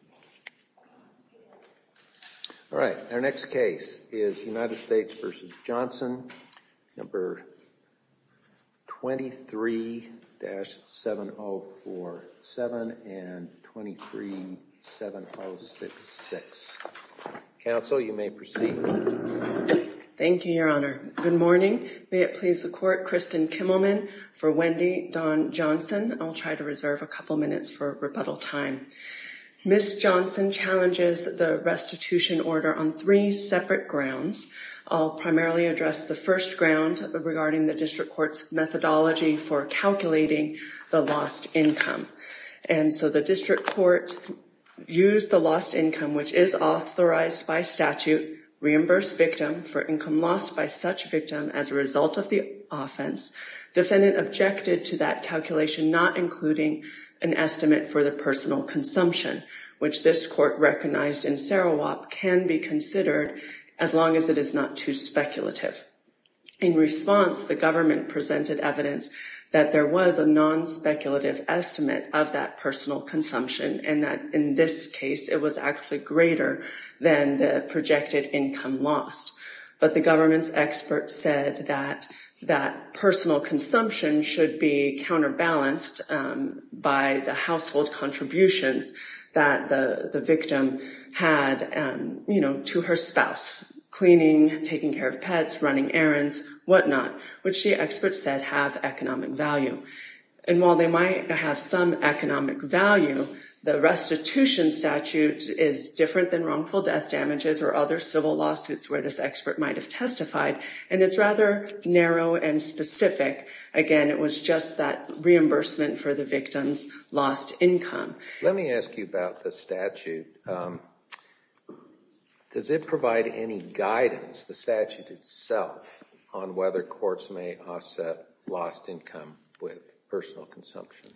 23-7047 and 23-7066. Council, you may proceed. Thank you, Your Honor. Good morning. May it please the Court, Kristen Kimmelman for Wendy Dawn Johnson. I'll try to reserve a couple minutes for rebuttal time. Ms. Johnson challenges the restitution order on three separate grounds. I'll primarily address the first ground regarding the District Court's methodology for calculating the lost income. And so the District Court used the lost income, which is authorized by statute, reimbursed victim for income lost by such victim as a result of the offense. Defendant objected to that calculation, not including an estimate for the personal consumption, which this Court recognized in Sarawak can be considered as long as it is not too speculative. In response, the government presented evidence that there was a non-speculative estimate of that personal consumption and that in this case, it was actually greater than the projected income lost. But the government's experts said that that personal consumption should be counterbalanced by the household contributions that the victim had, you know, to her spouse, cleaning, taking care of pets, running errands, whatnot, which the experts said have economic value. And while they might have some economic value, the restitution statute is different than wrongful death damages or other civil lawsuits where this expert might have testified, and it's rather narrow and specific. Again, it was just that reimbursement for the victim's lost income. Let me ask you about the statute. Does it provide any guidance, the statute itself, on whether courts may offset lost income with personal consumption?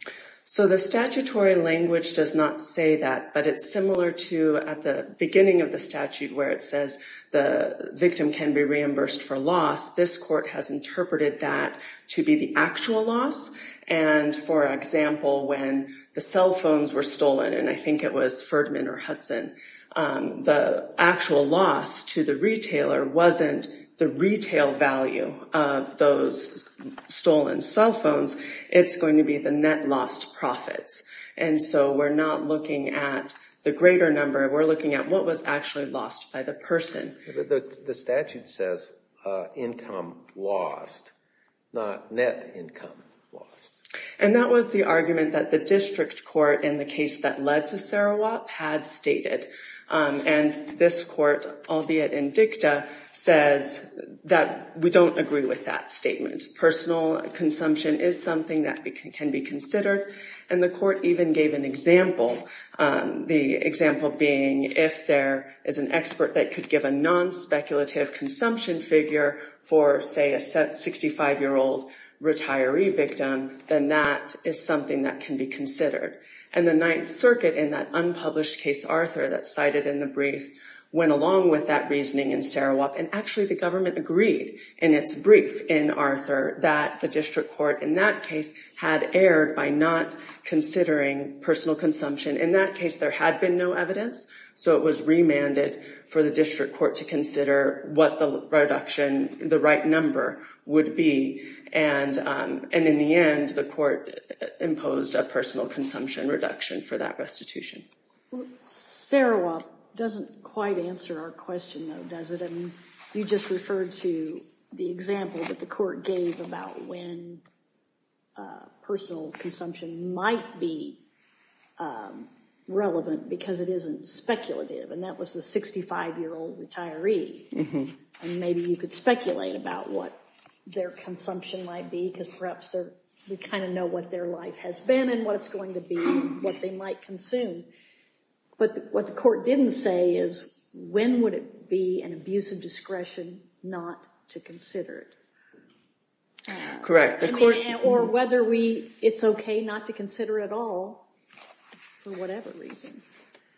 So the statutory language does not say that, but it's similar to at the beginning of the statute where it says the victim can be reimbursed for loss. This court has interpreted that to be the actual loss. And for example, when the cell phones were stolen, and I think it was Ferdman or Hudson, the actual loss to the retailer wasn't the retail value of those stolen cell phones. It's going to be the net lost profits. And so we're not looking at the greater number. We're looking at what was actually lost by the person. The statute says income lost, not net income lost. And that was the argument that the district court in the case that led to Sarawak had stated. And this court, albeit indicta, says that we don't agree with that statement. Personal consumption is something that can be considered. And the court even gave an example, the example being if there is an expert that could give a non-speculative consumption figure for, say, a 65-year-old retiree victim, then that is something that can be considered. And the Ninth Circuit in that unpublished case, Arthur, that's cited in the brief, went along with that reasoning in Sarawak. And actually, the government agreed in its brief in Arthur that the district court in that case had erred by not considering personal consumption. In that case, there had been no evidence. So it was remanded for the district court to consider what the reduction, the right number would be. And in the end, the court imposed a personal consumption reduction for that restitution. Sarawak doesn't quite answer our question, though, does it? And you just referred to the example that the court gave about when personal consumption might be relevant because it isn't speculative. And that was the 65-year-old retiree. And maybe you could speculate about what their consumption might be because perhaps they kind of know what their life has been and what it's going to be, what they might consume. But what the court didn't say is when would it be an abuse of discretion not to consider it. Correct. Or whether it's OK not to consider at all for whatever reason.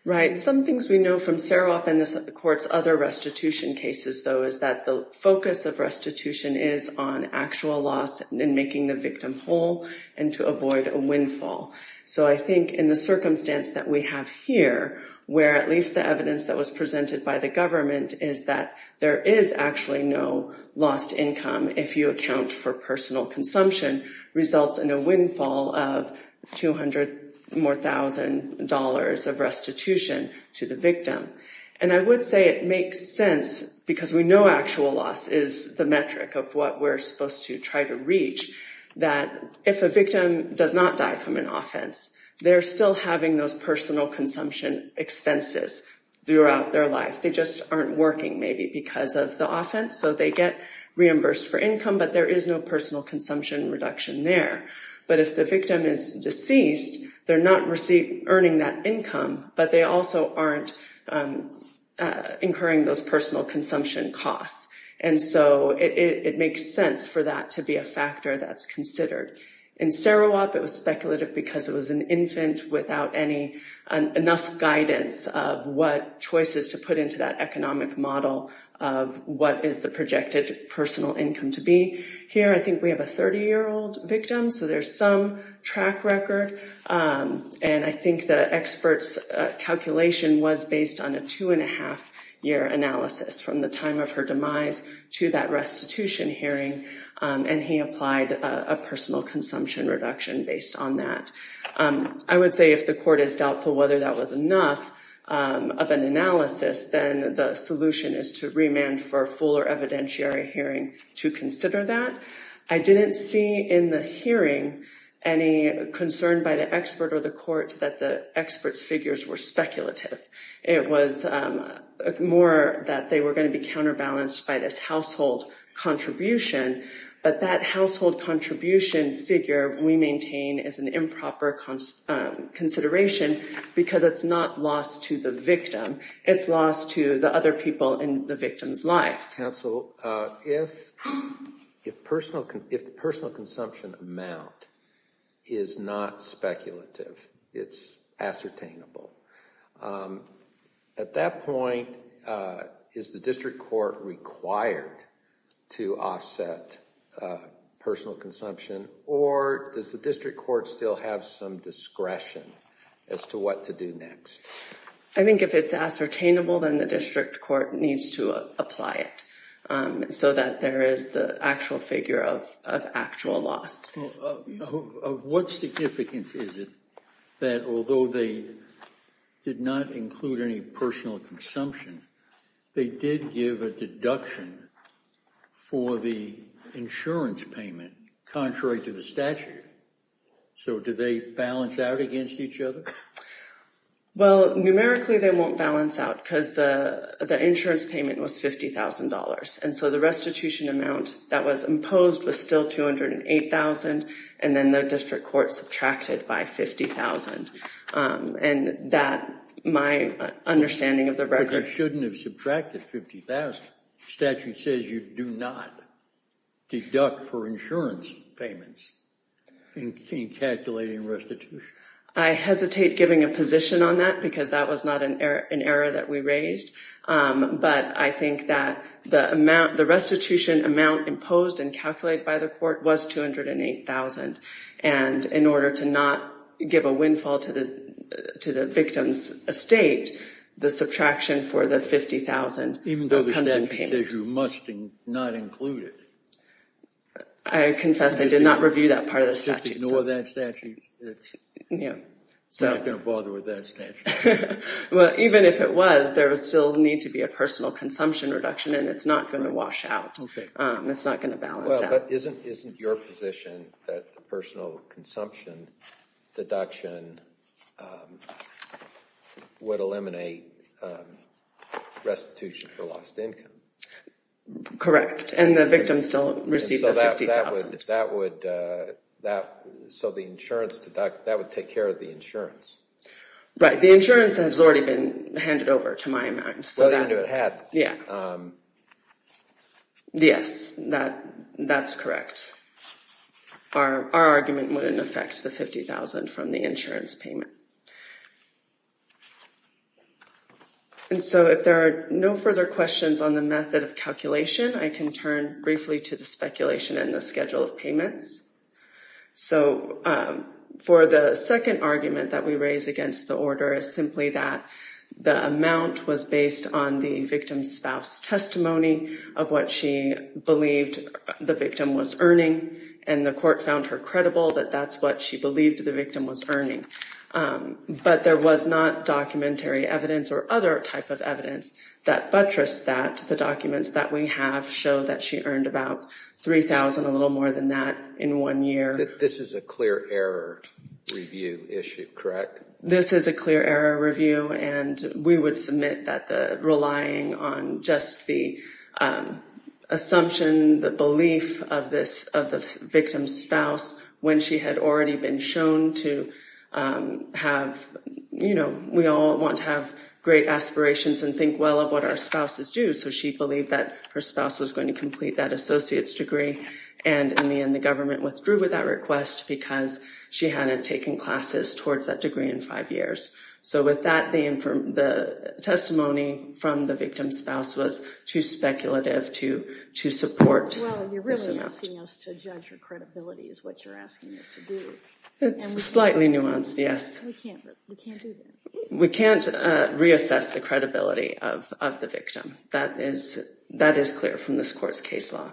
Right. Some things we know from Sarawak and the court's other restitution cases, though, is that the focus of restitution is on actual loss and making the victim whole and to avoid a windfall. So I think in the circumstance that we have here, where at least the evidence that was presented by the government is that there is actually no lost income if you account for personal consumption, results in a windfall of $200,000 more of restitution to the victim. And I would say it makes sense because we know actual loss is the metric of what we're supposed to try to reach, that if a victim does not die from an offense, they're still having those personal consumption expenses throughout their life. They just aren't working maybe because of the offense. So they get reimbursed for income, but there is no personal consumption reduction there. But if the victim is deceased, they're not earning that income, but they also aren't incurring those personal consumption costs. And so it makes sense for that to be a factor that's considered. In Sarawak, it was speculative because it was an infant without enough guidance of what choices to put into that economic model of what is the projected personal income to be. Here, I think we have a 30-year-old victim, so there's some track record. And I think the expert's calculation was based on a two-and-a-half-year analysis from the time of her demise to that restitution hearing. And he applied a personal consumption reduction based on that. I would say if the court is doubtful whether that was enough of an analysis, then the solution is to remand for a fuller evidentiary hearing to consider that. I didn't see in the hearing any concern by the expert or the court that the expert's figures were speculative. It was more that they were going to be counterbalanced by this household contribution. But that household contribution figure we maintain is an improper consideration because it's not lost to the victim. It's lost to the other people in the victim's lives. Counsel, if the personal consumption amount is not speculative, it's ascertainable, at that point, is the district court required to offset personal consumption? Or does the district court still have some discretion as to what to do next? I think if it's ascertainable, then the district court needs to apply it so that there is the actual figure of actual loss. What significance is it that although they did not include any personal consumption, they did give a deduction for the insurance payment contrary to the statute? So do they balance out against each other? Well, numerically, they won't balance out because the insurance payment was $50,000. And so the restitution amount that was imposed was still $208,000. And then the district court subtracted by $50,000. And that, my understanding of the record— But you shouldn't have subtracted $50,000. The statute says you do not deduct for insurance payments in calculating restitution. I hesitate giving a position on that because that was not an error that we raised. But I think that the restitution amount imposed and calculated by the court was $208,000. And in order to not give a windfall to the victim's estate, the subtraction for the $50,000 comes in payment. Even though the statute says you must not include it? I confess I did not review that part of the statute. Ignore that statute. We're not going to bother with that statute. Well, even if it was, there would still need to be a personal consumption reduction, and it's not going to wash out. It's not going to balance out. Well, but isn't your position that the personal consumption deduction would eliminate restitution for lost income? Correct. And the victim still received the $50,000. So that would take care of the insurance? Right. The insurance has already been handed over to my amount. Well, they knew it had. Yes, that's correct. Our argument wouldn't affect the $50,000 from the insurance payment. And so if there are no further questions on the method of calculation, I can turn briefly to the speculation and the schedule of payments. So for the second argument that we raise against the order is simply that the amount was based on the victim's spouse testimony of what she believed the victim was earning. And the court found her credible that that's what she believed the victim was earning. But there was not documentary evidence or other type of evidence that buttressed that. The documents that we have show that she earned about $3,000, a little more than that, in one year. This is a clear error review issue, correct? This is a clear error review, and we would submit that relying on just the assumption, the belief of the victim's spouse when she had already been shown to have, you know, we all want to have great aspirations and think well of what our spouses do. So she believed that her spouse was going to complete that associate's degree. And in the end, the government withdrew with that request because she hadn't taken classes towards that degree in five years. So with that, the testimony from the victim's spouse was too speculative to support this amount. Well, you're really asking us to judge her credibility is what you're asking us to do. It's slightly nuanced, yes. We can't do that. We can't reassess the credibility of the victim. That is clear from this court's case law.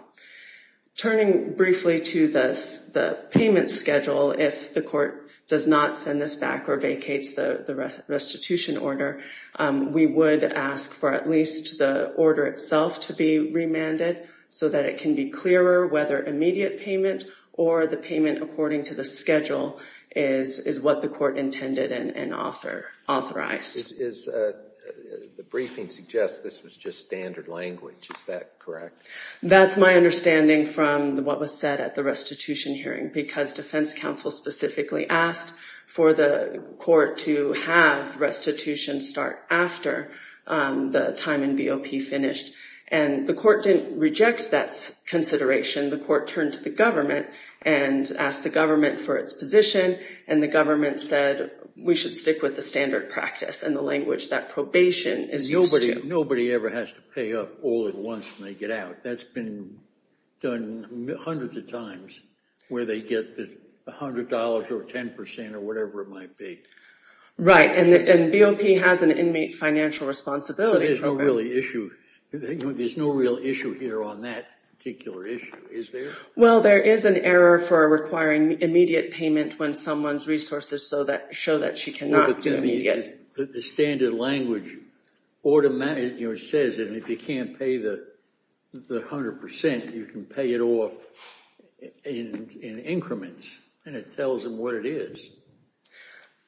Turning briefly to the payment schedule, if the court does not send this back or vacates the restitution order, we would ask for at least the order itself to be remanded so that it can be clearer whether immediate payment or the payment according to the schedule is what the court intended and authorized. The briefing suggests this was just standard language. Is that correct? That's my understanding from what was said at the restitution hearing because defense counsel specifically asked for the court to have restitution start after the time in BOP finished. And the court didn't reject that consideration. The court turned to the government and asked the government for its position. And the government said we should stick with the standard practice and the language that probation is used to. Nobody ever has to pay up all at once when they get out. That's been done hundreds of times where they get $100 or 10% or whatever it might be. Right. And BOP has an inmate financial responsibility. There's no real issue here on that particular issue, is there? Well, there is an error for requiring immediate payment when someone's resources show that she cannot do immediate. The standard language says that if you can't pay the 100%, you can pay it off in increments. And it tells them what it is.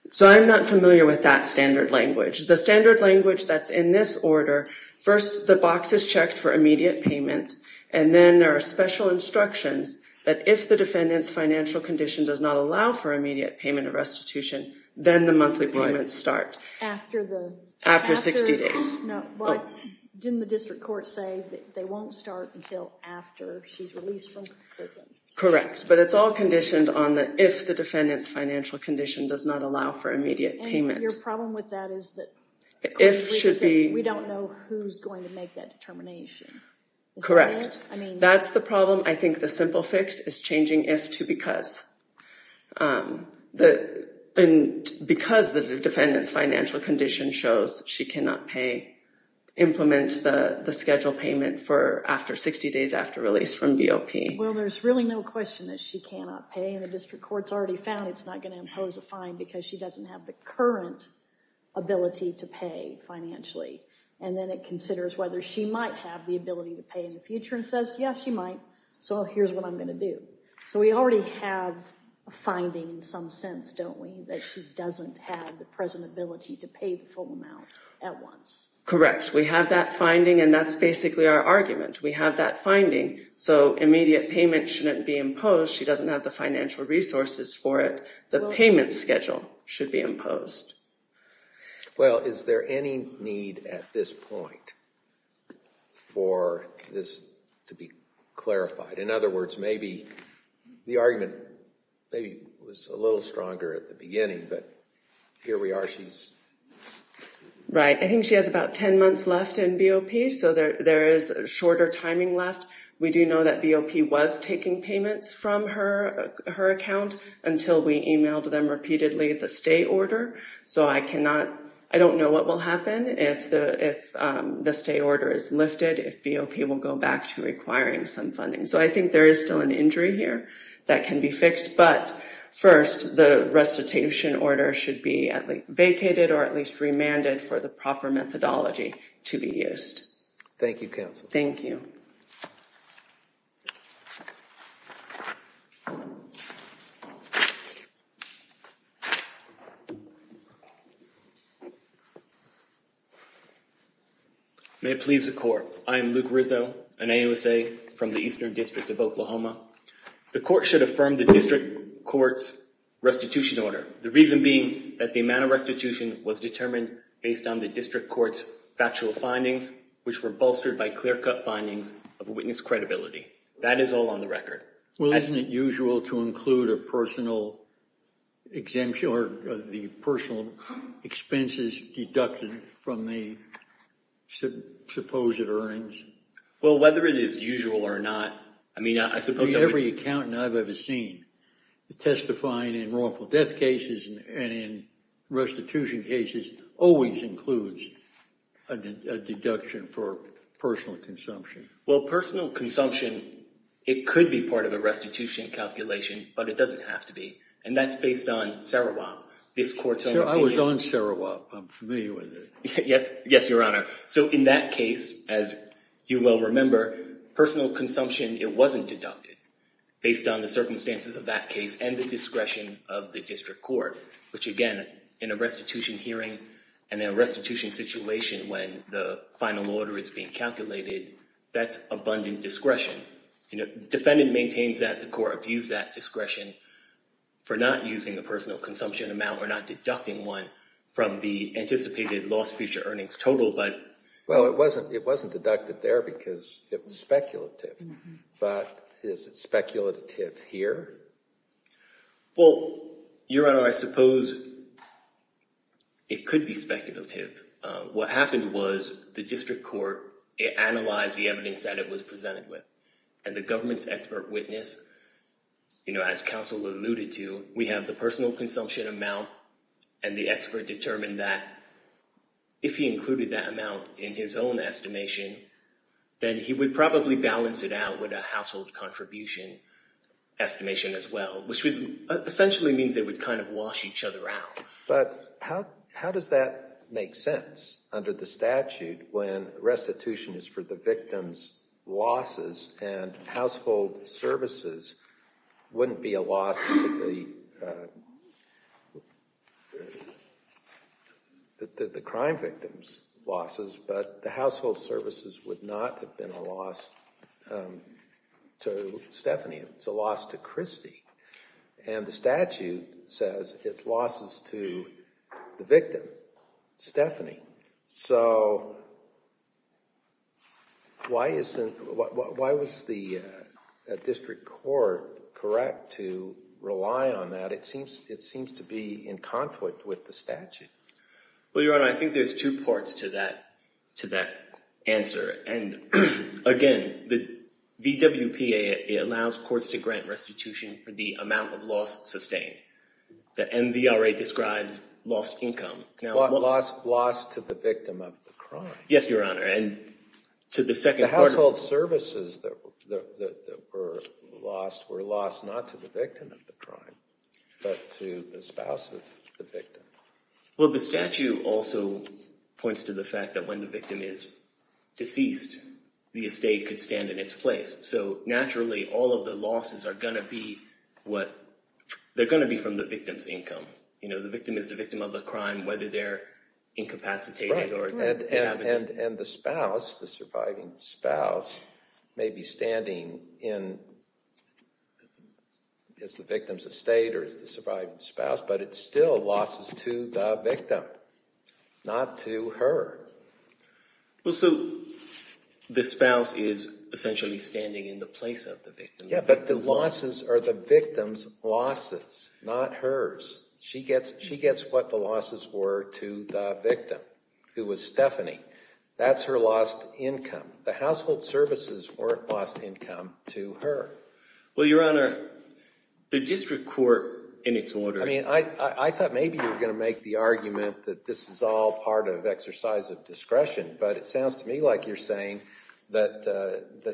So I'm not familiar with that standard language. The standard language that's in this order, first the box is checked for immediate payment. And then there are special instructions that if the defendant's financial condition does not allow for immediate payment of restitution, then the monthly payments start after 60 days. Didn't the district court say that they won't start until after she's released from prison? Correct. But it's all conditioned on the if the defendant's financial condition does not allow for immediate payment. Your problem with that is that we don't know who's going to make that determination. That's the problem. I think the simple fix is changing if to because. And because the defendant's financial condition shows she cannot pay, implement the schedule payment for after 60 days after release from BOP. Well, there's really no question that she cannot pay, and the district court's already found it's not going to impose a fine because she doesn't have the current ability to pay financially. And then it considers whether she might have the ability to pay in the future and says, yes, she might. So here's what I'm going to do. So we already have a finding in some sense, don't we, that she doesn't have the present ability to pay the full amount at once. Correct. We have that finding, and that's basically our argument. We have that finding. So immediate payment shouldn't be imposed. She doesn't have the financial resources for it. The payment schedule should be imposed. Well, is there any need at this point for this to be clarified? In other words, maybe the argument was a little stronger at the beginning, but here we are. Right. I think she has about 10 months left in BOP, so there is shorter timing left. We do know that BOP was taking payments from her account until we emailed them repeatedly the stay order. So I don't know what will happen if the stay order is lifted, if BOP will go back to requiring some funding. So I think there is still an injury here that can be fixed. But first, the restitution order should be vacated or at least remanded for the proper methodology to be used. Thank you, counsel. Thank you. May it please the court. I am Luke Rizzo, an AUSA from the Eastern District of Oklahoma. The court should affirm the district court's restitution order, the reason being that the amount of restitution was determined based on the district court's factual findings, which were bolstered by clear-cut findings of witness credibility. That is all on the record. Well, isn't it usual to include a personal exemption or the personal expenses deducted from the supposed earnings? Well, whether it is usual or not, I mean, I suppose I would— Testifying in wrongful death cases and in restitution cases always includes a deduction for personal consumption. Well, personal consumption, it could be part of a restitution calculation, but it doesn't have to be. And that's based on Sarawak, this court's own opinion. Sir, I was on Sarawak. I'm familiar with it. Yes. Yes, Your Honor. So in that case, as you well remember, personal consumption, it wasn't deducted, based on the circumstances of that case and the discretion of the district court, which, again, in a restitution hearing and a restitution situation when the final order is being calculated, that's abundant discretion. Defendant maintains that the court abused that discretion for not using a personal consumption amount or not deducting one from the anticipated lost future earnings total, but— Well, it wasn't deducted there because it was speculative. But is it speculative here? Well, Your Honor, I suppose it could be speculative. What happened was the district court analyzed the evidence that it was presented with, and the government's expert witness, you know, as counsel alluded to, we have the personal consumption amount, and the expert determined that if he included that amount in his own estimation, then he would probably balance it out with a household contribution estimation as well, which essentially means they would kind of wash each other out. But how does that make sense under the statute when restitution is for the victim's losses and household services wouldn't be a loss to the crime victim's losses, but the household services would not have been a loss to Stephanie. It's a loss to Christy. And the statute says it's losses to the victim, Stephanie. So why was the district court correct to rely on that? It seems to be in conflict with the statute. Well, Your Honor, I think there's two parts to that answer. And, again, the VWPA allows courts to grant restitution for the amount of loss sustained. The MVRA describes lost income. Lost to the victim of the crime. Yes, Your Honor, and to the second part of it. The household services that were lost were lost not to the victim of the crime, but to the spouse of the victim. Well, the statute also points to the fact that when the victim is deceased, the estate could stand in its place. So, naturally, all of the losses are going to be from the victim's income. You know, the victim is the victim of the crime, whether they're incapacitated. And the spouse, the surviving spouse, may be standing in the victim's estate or the surviving spouse, but it's still losses to the victim, not to her. Well, so the spouse is essentially standing in the place of the victim. Yeah, but the losses are the victim's losses, not hers. She gets what the losses were to the victim, who was Stephanie. That's her lost income. The household services weren't lost income to her. Well, Your Honor, the district court, in its order— I mean, I thought maybe you were going to make the argument that this is all part of exercise of discretion, but it sounds to me like you're saying that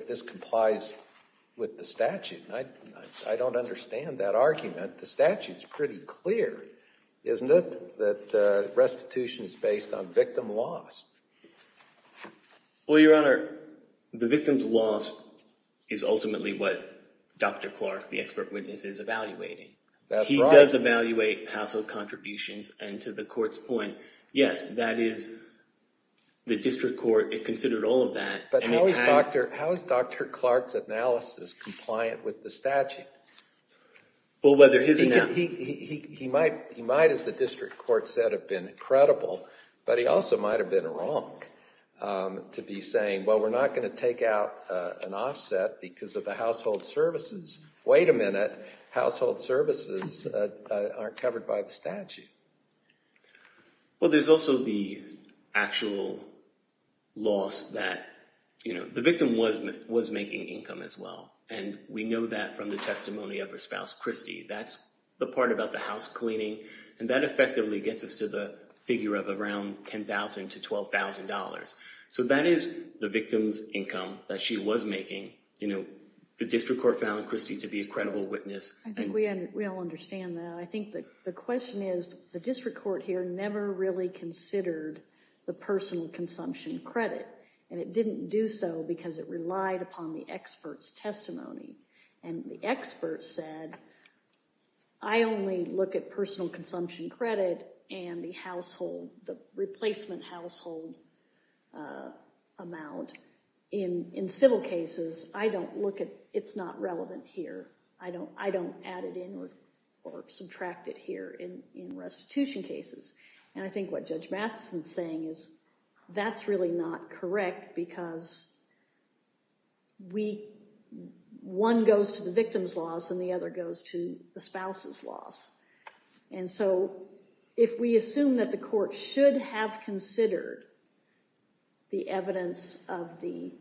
this complies with the statute. I don't understand that argument. The statute's pretty clear, isn't it, that restitution is based on victim loss? Well, Your Honor, the victim's loss is ultimately what Dr. Clark, the expert witness, is evaluating. That's right. He does evaluate household contributions, and to the court's point, yes, that is the district court. It considered all of that. But how is Dr. Clark's analysis compliant with the statute? Well, whether his or not— He might, as the district court said, have been credible, but he also might have been wrong to be saying, well, we're not going to take out an offset because of the household services. Wait a minute. Household services aren't covered by the statute. Well, there's also the actual loss that the victim was making income as well, and we know that from the testimony of her spouse, Christy. That's the part about the house cleaning, and that effectively gets us to the figure of around $10,000 to $12,000. So that is the victim's income that she was making. The district court found Christy to be a credible witness. I think we all understand that. I think the question is the district court here never really considered the personal consumption credit, and it didn't do so because it relied upon the expert's testimony, and the expert said, I only look at personal consumption credit and the replacement household amount. In civil cases, I don't look at—it's not relevant here. I don't add it in or subtract it here in restitution cases, and I think what Judge Matheson is saying is that's really not correct because one goes to the victim's loss and the other goes to the spouse's loss, and so if we assume that the court should have considered the evidence of the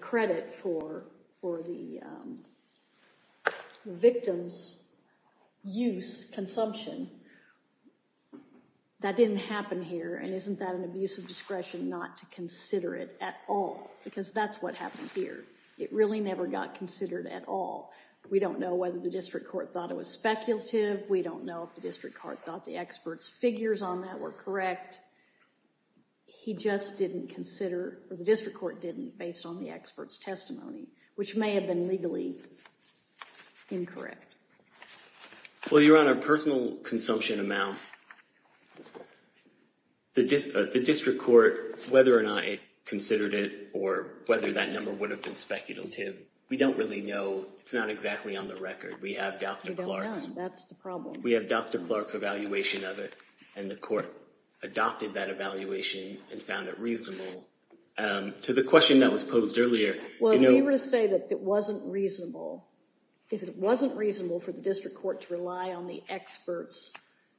credit for the victim's use, consumption, that didn't happen here, and isn't that an abuse of discretion not to consider it at all? Because that's what happened here. It really never got considered at all. We don't know whether the district court thought it was speculative. We don't know if the district court thought the expert's figures on that were correct. He just didn't consider, or the district court didn't based on the expert's testimony, which may have been legally incorrect. Well, Your Honor, personal consumption amount, the district court, whether or not it considered it or whether that number would have been speculative, we don't really know. It's not exactly on the record. We have Dr. Clark's— We don't know. That's the problem. We have Dr. Clark's evaluation of it, and the court adopted that evaluation and found it reasonable. To the question that was posed earlier— Well, if you were to say that it wasn't reasonable, if it wasn't reasonable for the district court to rely on the expert's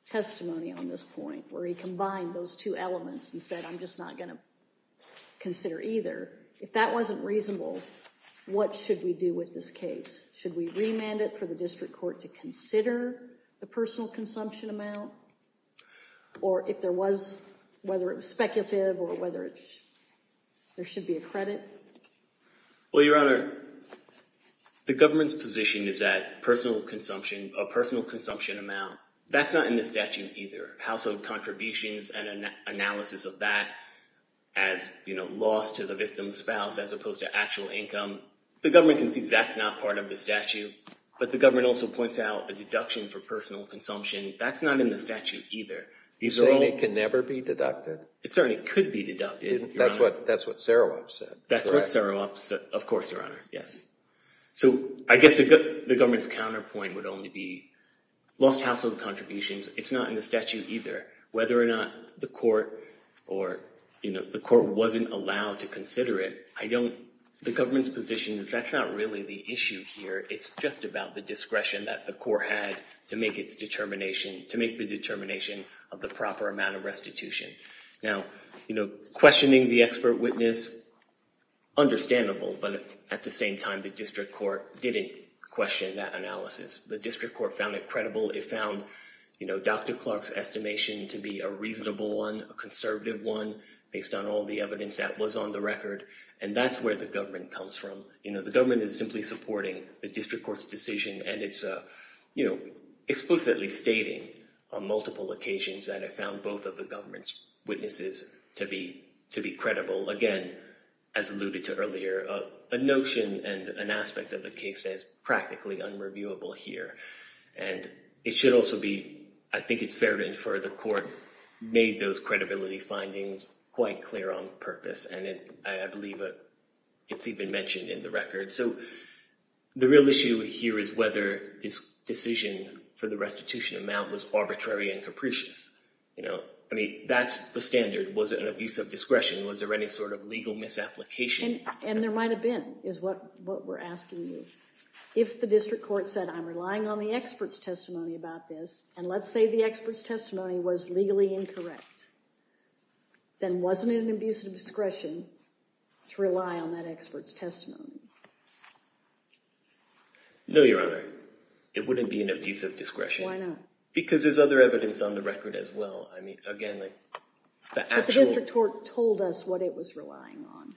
testimony on this point, where he combined those two elements and said, I'm just not going to consider either, if that wasn't reasonable, what should we do with this case? Should we remand it for the district court to consider the personal consumption amount? Or if there was, whether it was speculative or whether there should be a credit? Well, Your Honor, the government's position is that personal consumption amount, that's not in the statute either. Household contributions and analysis of that as loss to the victim's spouse as opposed to actual income, the government concedes that's not part of the statute, but the government also points out a deduction for personal consumption. That's not in the statute either. You're saying it can never be deducted? It certainly could be deducted, Your Honor. That's what Sarawak said. That's what Sarawak said, of course, Your Honor, yes. So I guess the government's counterpoint would only be lost household contributions. It's not in the statute either. Whether or not the court or, you know, the court wasn't allowed to consider it, I don't—the government's position is that's not really the issue here. It's just about the discretion that the court had to make its determination, to make the determination of the proper amount of restitution. Now, you know, questioning the expert witness, understandable, but at the same time the district court didn't question that analysis. The district court found it credible. It found, you know, Dr. Clark's estimation to be a reasonable one, a conservative one based on all the evidence that was on the record, and that's where the government comes from. You know, the government is simply supporting the district court's decision, and it's, you know, explicitly stating on multiple occasions that it found both of the government's witnesses to be credible, again, as alluded to earlier, a notion and an aspect of the case that is practically unreviewable here. And it should also be—I think it's fair to infer the court made those credibility findings quite clear on purpose, and I believe it's even mentioned in the record. So the real issue here is whether this decision for the restitution amount was arbitrary and capricious. You know, I mean, that's the standard. Was it an abuse of discretion? Was there any sort of legal misapplication? And there might have been, is what we're asking you. If the district court said, I'm relying on the expert's testimony about this, and let's say the expert's testimony was legally incorrect, then wasn't it an abuse of discretion to rely on that expert's testimony? No, Your Honor. It wouldn't be an abuse of discretion. Why not? Because there's other evidence on the record as well. I mean, again, the actual— But the district court told us what it was relying on.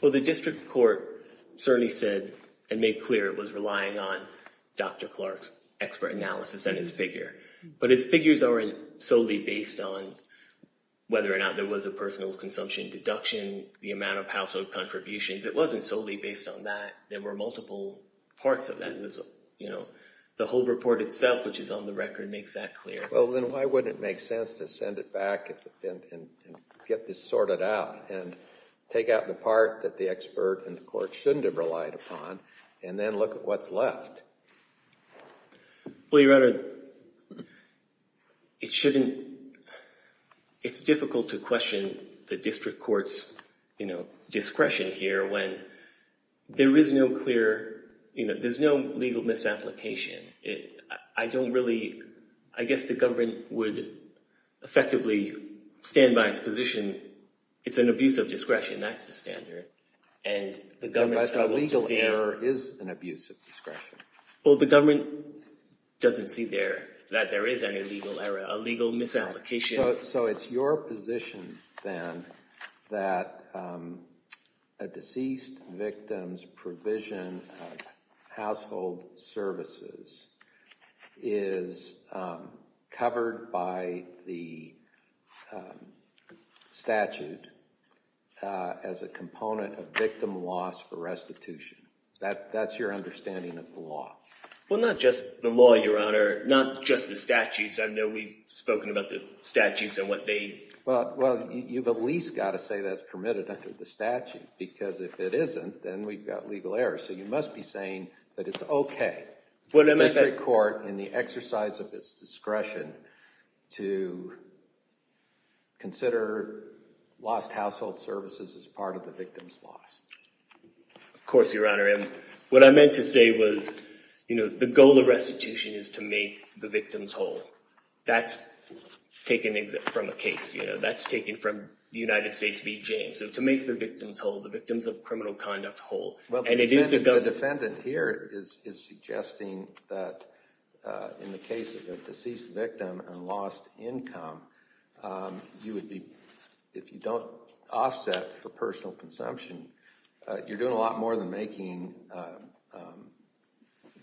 Well, the district court certainly said and made clear it was relying on Dr. Clark's expert analysis and his figure. But his figures aren't solely based on whether or not there was a personal consumption deduction, the amount of household contributions. It wasn't solely based on that. There were multiple parts of that. You know, the whole report itself, which is on the record, makes that clear. Well, then why wouldn't it make sense to send it back and get this sorted out and take out the part that the expert and the court shouldn't have relied upon and then look at what's left? Well, Your Honor, it shouldn't— it's difficult to question the district court's discretion here when there is no clear— there's no legal misapplication. I don't really—I guess the government would effectively stand by its position. It's an abuse of discretion. That's the standard. And the government struggles to see— But a legal error is an abuse of discretion. Well, the government doesn't see there that there is an illegal error, a legal misapplication. So it's your position, then, that a deceased victim's provision of household services is covered by the statute as a component of victim loss for restitution. That's your understanding of the law. Well, not just the law, Your Honor, not just the statutes. I know we've spoken about the statutes and what they— Well, you've at least got to say that's permitted under the statute, because if it isn't, then we've got legal error. So you must be saying that it's okay for the district court, in the exercise of its discretion, to consider lost household services as part of the victim's loss. Of course, Your Honor. And what I meant to say was, you know, the goal of restitution is to make the victims whole. That's taken from a case, you know. That's taken from the United States v. James. So to make the victims whole, the victims of criminal conduct whole. Well, the defendant here is suggesting that in the case of a deceased victim and lost income, you would be—if you don't offset for personal consumption, you're doing a lot more than making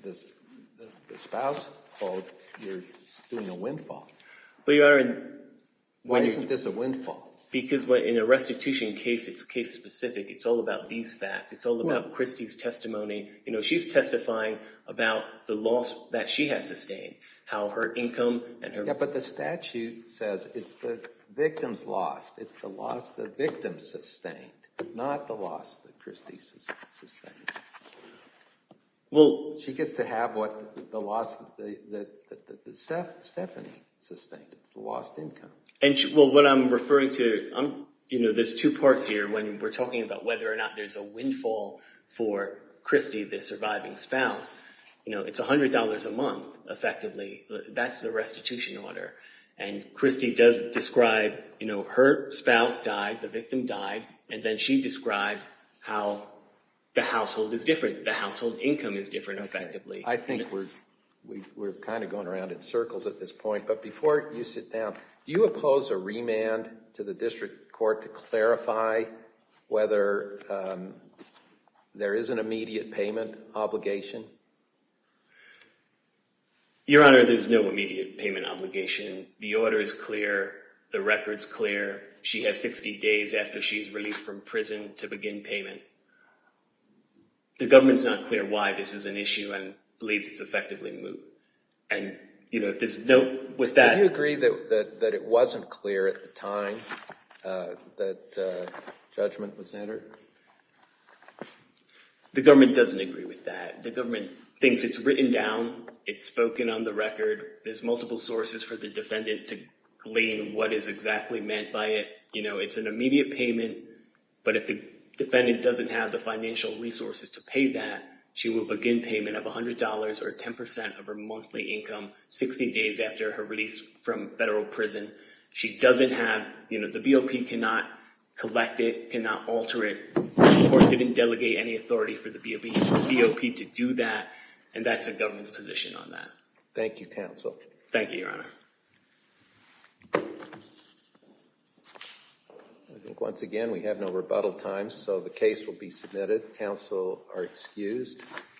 the spouse whole. You're doing a windfall. But, Your Honor— Why isn't this a windfall? Because in a restitution case, it's case-specific. It's all about these facts. It's all about Christie's testimony. You know, she's testifying about the loss that she has sustained, how her income and her— Yeah, but the statute says it's the victim's loss. It's the loss the victim sustained, not the loss that Christie sustained. Well— She gets to have what Stephanie sustained. It's the lost income. Well, what I'm referring to—you know, there's two parts here when we're talking about whether or not there's a windfall for Christie, the surviving spouse. You know, it's $100 a month, effectively. That's the restitution order. And Christie does describe, you know, her spouse died, the victim died, and then she describes how the household is different. The household income is different, effectively. I think we're kind of going around in circles at this point, but before you sit down, do you oppose a remand to the district court to clarify whether there is an immediate payment obligation? Your Honor, there's no immediate payment obligation. The order is clear. The record's clear. She has 60 days after she's released from prison to begin payment. The government's not clear why this is an issue and believes it's effectively moot. And, you know, there's no— Do you agree that it wasn't clear at the time that judgment was entered? The government doesn't agree with that. The government thinks it's written down, it's spoken on the record. There's multiple sources for the defendant to glean what is exactly meant by it. You know, it's an immediate payment, but if the defendant doesn't have the financial resources to pay that, she will begin payment of $100 or 10% of her monthly income 60 days after her release from federal prison. She doesn't have—you know, the BOP cannot collect it, cannot alter it. The court didn't delegate any authority for the BOP to do that, and that's the government's position on that. Thank you, counsel. Thank you, Your Honor.